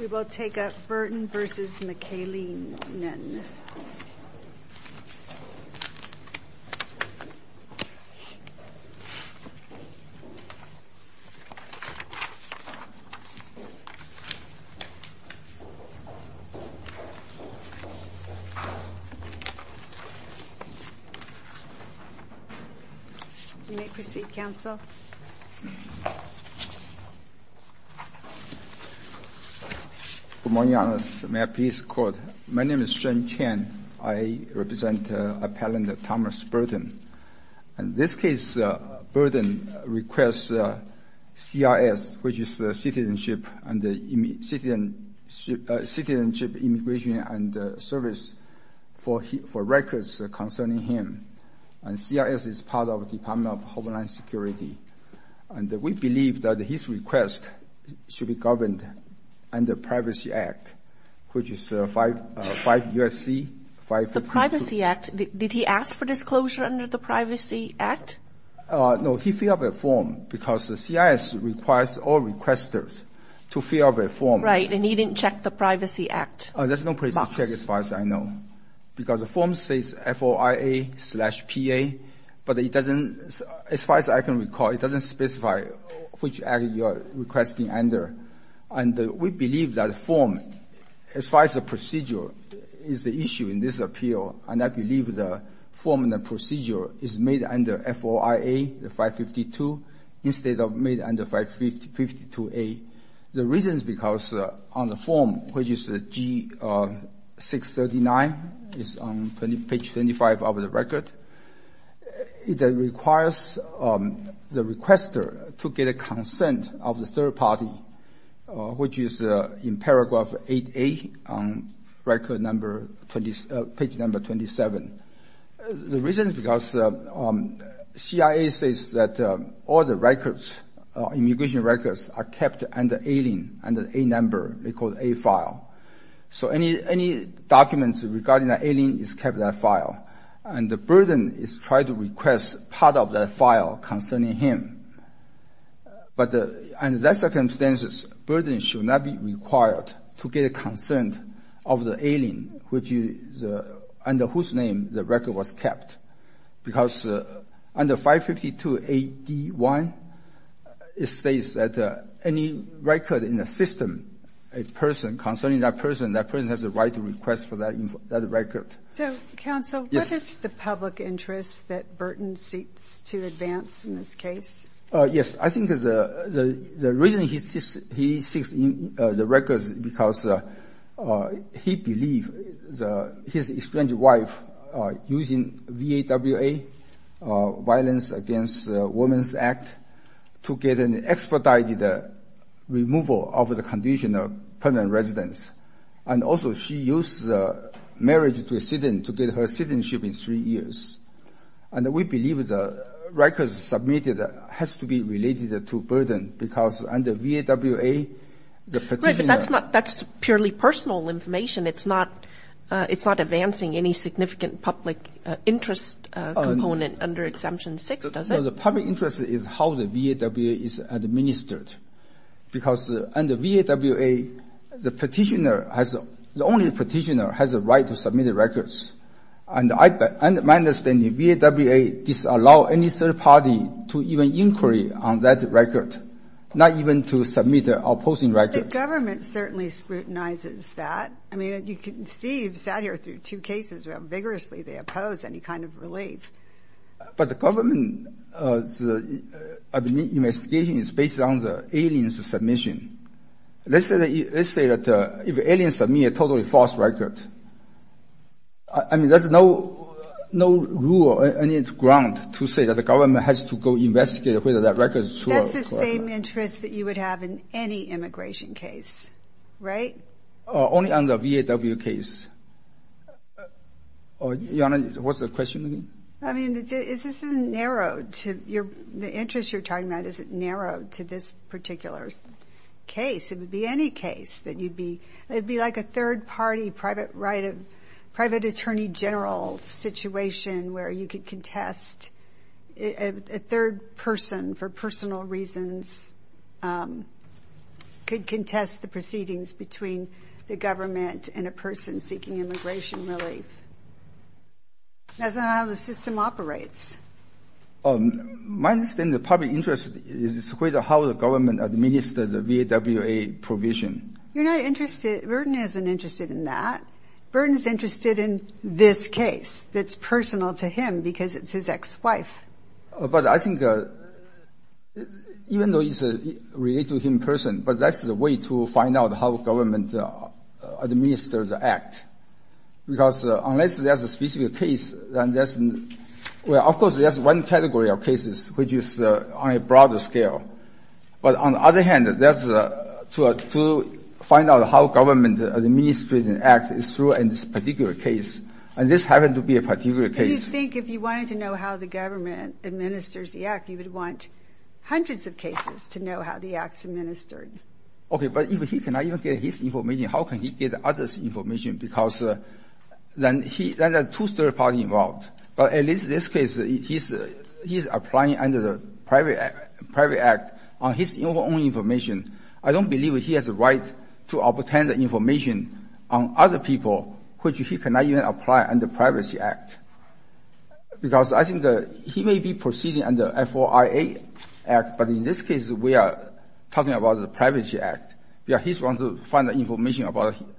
We will take up Burton v. McAleenan. You may proceed, counsel. Good morning, Your Honor. May I please quote? My name is Shen Chen. I represent appellant Thomas Burton. This case, Burton requests CRS, which is Citizenship, Immigration and Service, for records concerning him. And CRS is part of Department of Homeland Security. And we believe that his request should be governed under Privacy Act, which is 5 U.S.C. 552. The Privacy Act? Did he ask for disclosure under the Privacy Act? No, he filled out a form because the CRS requires all requesters to fill out a form. Right, and he didn't check the Privacy Act. There's no Privacy Act as far as I know. Because the form says FOIA-PA, but it doesn't, as far as I can recall, it doesn't specify which act you are requesting under. And we believe that form, as far as the procedure, is the issue in this appeal. And I believe the form and the procedure is made under FOIA, the 552, instead of made under 552A. The reason is because on the form, which is G639, is on page 25 of the record, it requires the requester to get a consent of the third party, which is in paragraph 8A on record number 20, page number 27. The reason is because CIA says that all the records, immigration records, are kept under AILIN, under A number, they call it A file. So any documents regarding the AILIN is kept in that file. And the burden is try to request part of that file concerning him. But under that circumstances, burden should not be required to get a consent of the AILIN, which is under whose name the record was kept. Because under 552A.D.1, it states that any record in a system, a person concerning that person, that person has a right to request for that record. So, counsel, what is the public interest that Burton seeks to advance in this case? Yes. I think the reason he seeks the records is because he believes his estranged wife using VAWA, Violence Against Women's Act, to get an expedited removal of the condition of permanent residence. And also, she used marriage to a citizen to get her citizenship in three years. And we believe the records submitted has to be related to burden, because under VAWA, the petitioner That's purely personal information. It's not, it's not advancing any significant public interest component under Exemption 6, does it? The public interest is how the VAWA is administered. Because under VAWA, the petitioner has, the only petitioner has a right to submit the records. And I, my understanding VAWA disallow any third party to even inquiry on that record, not even to submit the opposing record. But the government certainly scrutinizes that. I mean, you can see, you've sat here through two cases where vigorously they oppose any kind of relief. But the government's investigation is based on the alien's submission. Let's say that if alien submit a totally false record, I mean, there's no, no rule or any ground to say that the government has to go investigate whether that record is true or not. It's the same interest that you would have in any immigration case, right? Only under VAWA case. Your Honor, what's the question again? I mean, is this a narrowed to your, the interest you're talking about, is it narrowed to this particular case? It would be any case that you'd be, it'd be like a third party private right of, private attorney general situation where you could contest a third person for personal reasons, could contest the proceedings between the government and a person seeking immigration relief. That's not how the system operates. My understanding of the public interest is how the government administers the VAWA provision. You're not interested, Burton isn't interested in that. Burton's interested in this case that's personal to him because it's his ex-wife. But I think even though it's related to him in person, but that's the way to find out how government administers the act. Because unless there's a specific case, then that's, well, of course, there's one category of cases which is on a broader scale. But on the other hand, that's to find out how government administers an act is true in this particular case. And this happened to be a particular case. Do you think if you wanted to know how the government administers the act, you would want hundreds of cases to know how the act's administered? Okay. But if he cannot even get his information, how can he get others' information? Because then he, then there are two third parties involved. But in this case, he's applying under the private act on his own information. I don't believe he has a right to obtain the information on other people which he cannot even apply under the Privacy Act. Because I think he may be proceeding under the FOIA Act, but in this case, we are talking about the Privacy Act. He's going to find the information about him.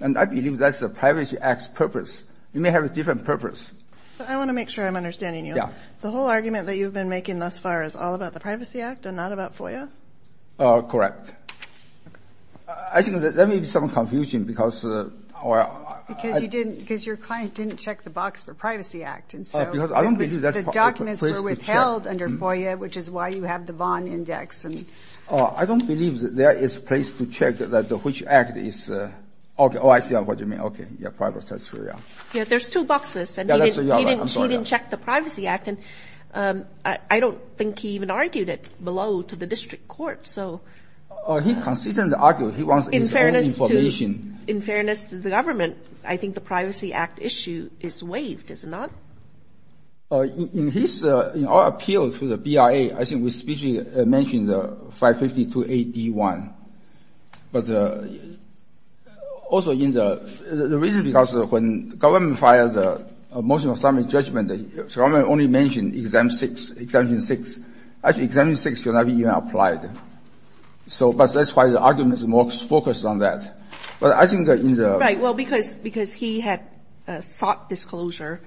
And I believe that's the Privacy Act's purpose. It may have a different purpose. I want to make sure I'm understanding you. Yeah. The whole argument that you've been making thus far is all about the Privacy Act and not about FOIA? Correct. Okay. I think there may be some confusion because our – Because you didn't – because your client didn't check the box for Privacy Act. And so the documents were withheld under FOIA, which is why you have the Vaughn Index. I don't believe that there is a place to check that which act is – okay. Oh, I see what you mean. Okay. Yeah. Privacy Act. Yeah, there's two boxes. And he didn't check the Privacy Act. And I don't think he even argued it below to the district. He argued it below to the district court, so. He consistently argued he wants his own information. In fairness to the government, I think the Privacy Act issue is waived, is it not? In his – in our appeal to the BIA, I think we specifically mentioned the 552A-D1. But also in the – the reason because when the government filed the motion of summary judgment, the government only mentioned Exam 6, Exemption 6. Actually, Exemption 6 cannot be even applied. So – but that's why the argument is more focused on that. But I think that in the – Right. Well, because he had sought disclosure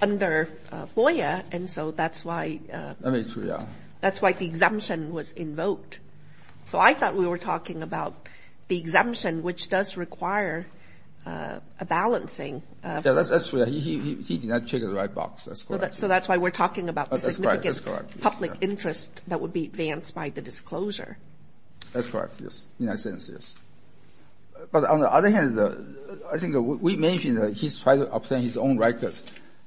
under FOIA, and so that's why – Let me – yeah. That's why the exemption was invoked. So I thought we were talking about the exemption, which does require a balancing. Yeah, that's true. He did not check the right box. That's correct. So that's why we're talking about the significant public interest that would be advanced by the disclosure. That's correct. Yes. In that sense, yes. But on the other hand, I think we mentioned he's trying to obtain his own record.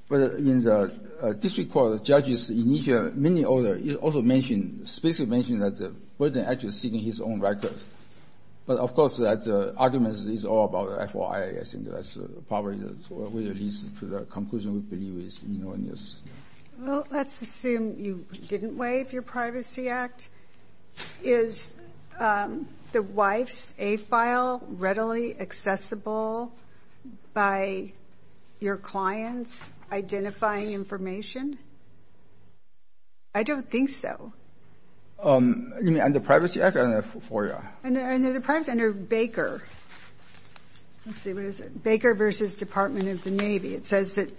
But in the district court, the judge's initial mini-order, it also mentioned – specifically mentioned that the person actually seeking his own record. But of course, that argument is all about FOIA, I think. So that's probably what leads to the conclusion we believe is enormous. Well, let's assume you didn't waive your Privacy Act. Is the wife's A file readily accessible by your clients identifying information? I don't think so. Under Privacy Act or under FOIA? Under the Privacy – under Baker. Let's see. What is it? Baker versus Department of the Navy. It says that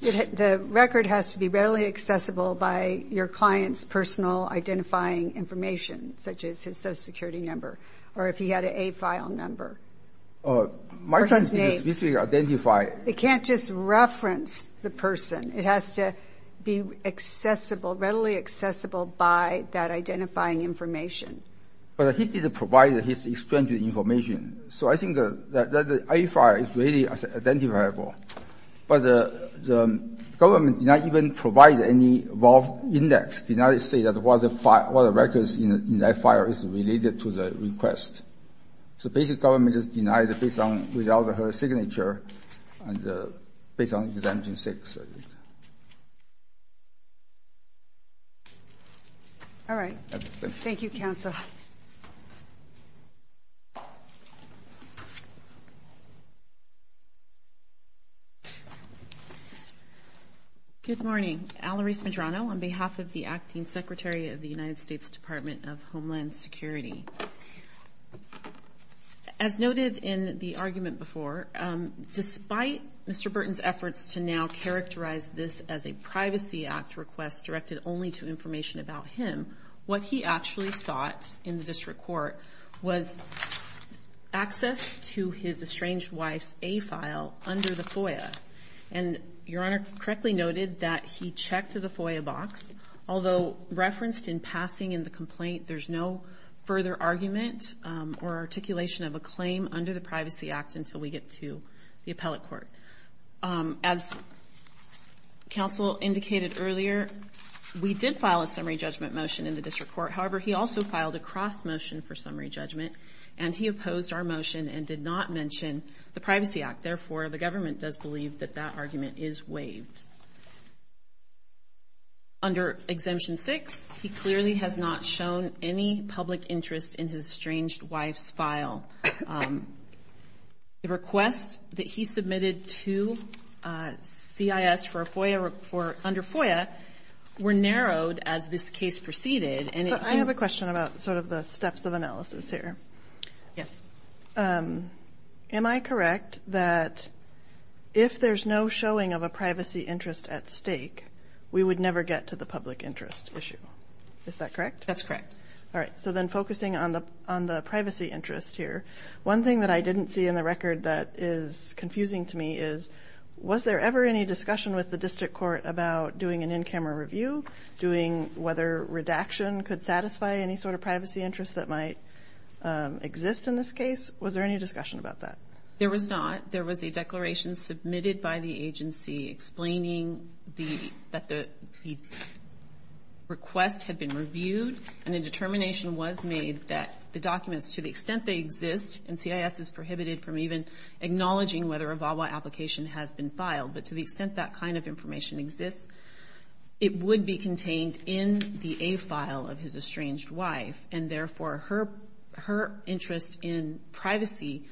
the record has to be readily accessible by your client's personal identifying information, such as his Social Security number or if he had an A file number. Or his name. It can't just reference the person. It has to be accessible – readily accessible by that identifying information. But he didn't provide his extended information. So I think that the A file is readily identifiable. But the government did not even provide any involved index, did not say that what the file – what records in that file is related to the request. So basically, the government just denied it based on – without her signature and based on exemption 6. All right. Thank you, Counsel. Good morning. Alarise Medrano on behalf of the Acting Secretary of the United States Department of Homeland Security. As noted in the argument before, despite Mr. Burton's efforts to now characterize this as a Privacy Act request directed only to information about him, what he actually sought in the district court was access to his estranged wife's A file under the FOIA. And Your Honor correctly noted that he checked the FOIA box. Although referenced in passing in the complaint, there's no further argument or articulation of a claim under the Privacy Act until we get to the appellate court. As Counsel indicated earlier, we did file a summary judgment motion in the district court. However, he also filed a cross-motion for summary judgment, and he opposed our motion and did not mention the Privacy Act. Therefore, the government does believe that that argument is waived. Under Exemption 6, he clearly has not shown any public interest in his estranged wife's file. The requests that he submitted to CIS under FOIA were narrowed as this case proceeded. But I have a question about sort of the steps of analysis here. Yes. Am I correct that if there's no showing of a privacy interest at stake, we would never get to the public interest issue? Is that correct? That's correct. All right, so then focusing on the privacy interest here, one thing that I didn't see in the record that is confusing to me is, was there ever any discussion with the district court about doing an in-camera review, doing whether redaction could satisfy any sort of privacy interest that might exist in this case? Was there any discussion about that? There was not. There was a declaration submitted by the agency explaining that the request had been reviewed and a determination was made that the documents, to the extent they exist, and CIS is prohibited from even acknowledging whether a VAWA application has been filed, but to the extent that kind of information exists, it would be contained in the A file of his estranged wife, and therefore her interest in privacy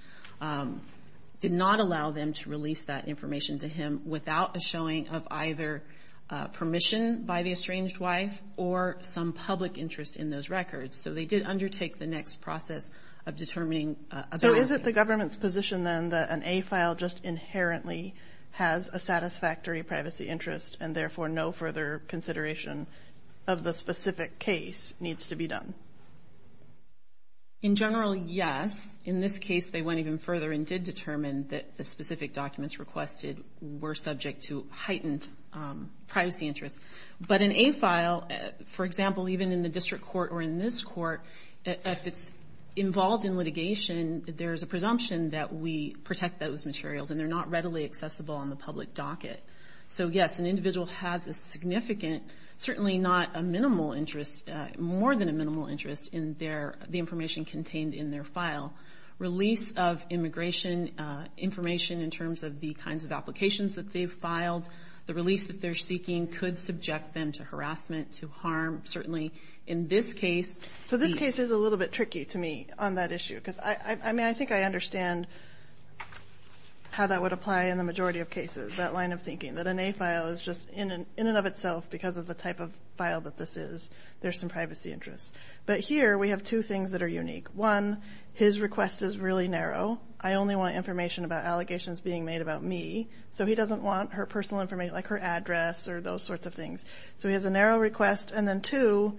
did not allow them to release that information to him without a showing of either permission by the estranged wife or some public interest in those records. So they did undertake the next process of determining a VAWA. So is it the government's position, then, that an A file just inherently has a satisfactory privacy interest and therefore no further consideration of the specific case needs to be done? In general, yes. In this case, they went even further and did determine that the specific documents requested were subject to heightened privacy interests. But an A file, for example, even in the district court or in this court, if it's involved in litigation, there's a presumption that we protect those materials and they're not readily accessible on the public docket. So, yes, an individual has a significant, certainly not a minimal interest, more than a minimal interest in the information contained in their file. Release of immigration information in terms of the kinds of applications that they've filed, the release that they're seeking could subject them to harassment, to harm. Certainly in this case, the ---- So this case is a little bit tricky to me on that issue, because I think I understand how that would apply in the majority of cases, that line of thinking, that an A file is just in and of itself, because of the type of file that this is, there's some privacy interests. But here we have two things that are unique. One, his request is really narrow. I only want information about allegations being made about me. So he doesn't want her personal information, like her address or those sorts of things. So he has a narrow request. And then two,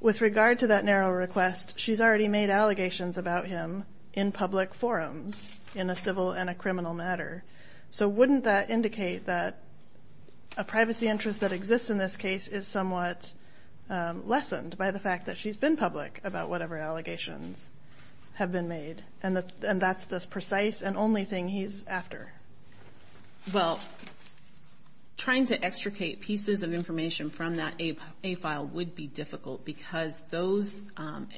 with regard to that narrow request, she's already made allegations about him in public forums in a civil and a criminal matter. So wouldn't that indicate that a privacy interest that exists in this case is somewhat lessened by the fact that she's been public about whatever allegations have been made, and that's the precise and only thing he's after? Well, trying to extricate pieces of information from that A file would be difficult, because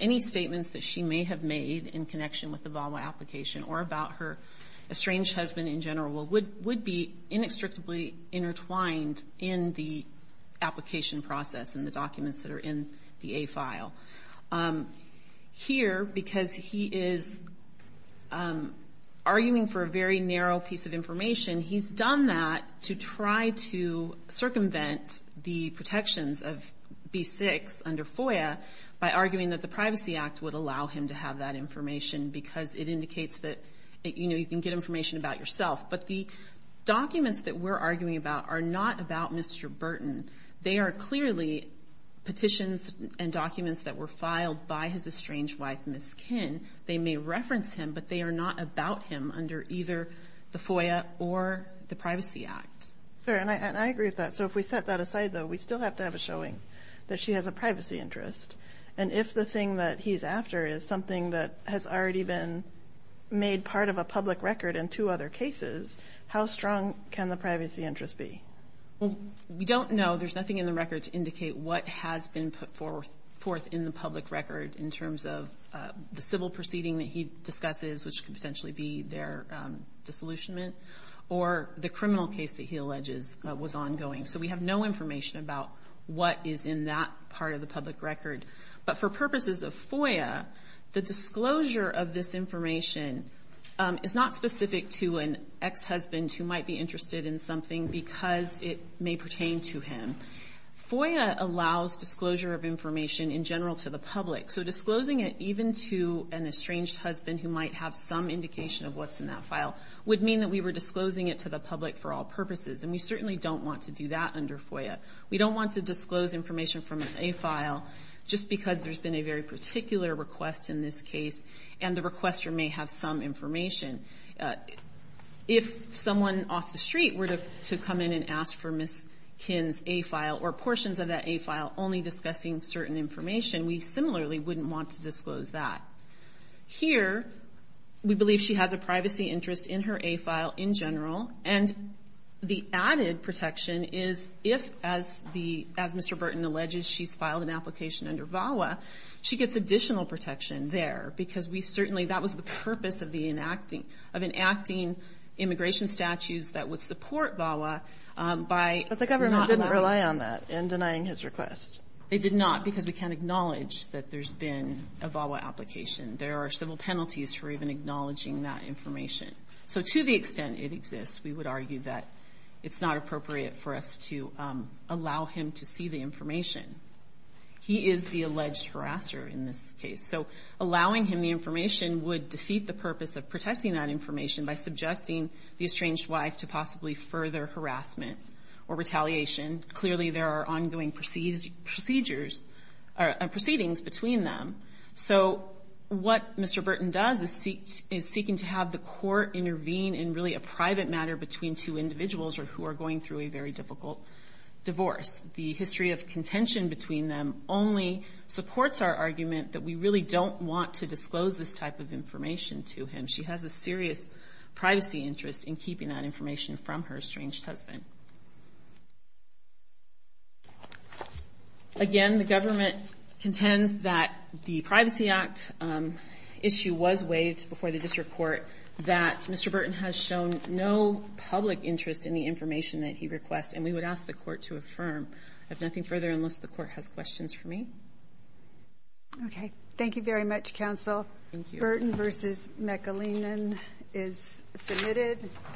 any statements that she may have made in connection with the VAWA application or about her estranged husband in general would be inextricably intertwined in the application process and the documents that are in the A file. Here, because he is arguing for a very narrow piece of information, he's done that to try to circumvent the protections of B6 under FOIA by arguing that the Privacy Act would allow him to have that information because it indicates that you can get information about yourself. But the documents that we're arguing about are not about Mr. Burton. They are clearly petitions and documents that were filed by his estranged wife, Ms. Kinn. They may reference him, but they are not about him under either the FOIA or the Privacy Act. And I agree with that. So if we set that aside, though, we still have to have a showing that she has a privacy interest. And if the thing that he's after is something that has already been made part of a public record in two other cases, how strong can the privacy interest be? We don't know. There's nothing in the record to indicate what has been put forth in the public record in terms of the civil proceeding that he discusses, which could potentially be their disillusionment, or the criminal case that he alleges was ongoing. So we have no information about what is in that part of the public record. But for purposes of FOIA, the disclosure of this information is not specific to an ex-husband who might be interested in something because it may pertain to him. FOIA allows disclosure of information in general to the public. So disclosing it even to an estranged husband who might have some indication of what's in that file would mean that we were disclosing it to the public for all purposes. And we certainly don't want to do that under FOIA. We don't want to disclose information from an A file just because there's been a very particular request in this case, and the requester may have some information. If someone off the street were to come in and ask for Ms. Kinn's A file or portions of that A file only discussing certain information, we similarly wouldn't want to disclose that. Here, we believe she has a privacy interest in her A file in general, and the added protection is if, as Mr. Burton alleges, she's filed an application under VAWA, she gets additional protection there because we certainly that was the purpose of enacting immigration statutes that would support VAWA by not allowing it. But the government didn't rely on that in denying his request. It did not because we can't acknowledge that there's been a VAWA application. There are civil penalties for even acknowledging that information. So to the extent it exists, we would argue that it's not appropriate for us to allow him to see the information. He is the alleged harasser in this case. So allowing him the information would defeat the purpose of protecting that information by subjecting the estranged wife to possibly further harassment or retaliation. Clearly, there are ongoing procedures or proceedings between them. So what Mr. Burton does is seeking to have the court intervene in really a private matter between two individuals or who are going through a very difficult divorce. The history of contention between them only supports our argument that we really don't want to disclose this type of information to him. She has a serious privacy interest in keeping that information from her estranged husband. Again, the government contends that the Privacy Act issue was waived before the district court, that Mr. Burton has shown no public interest in the information that he requests. And we would ask the court to affirm. I have nothing further unless the court has questions for me. Okay. Thank you very much, counsel. Thank you. Burton v. McAleenan is submitted.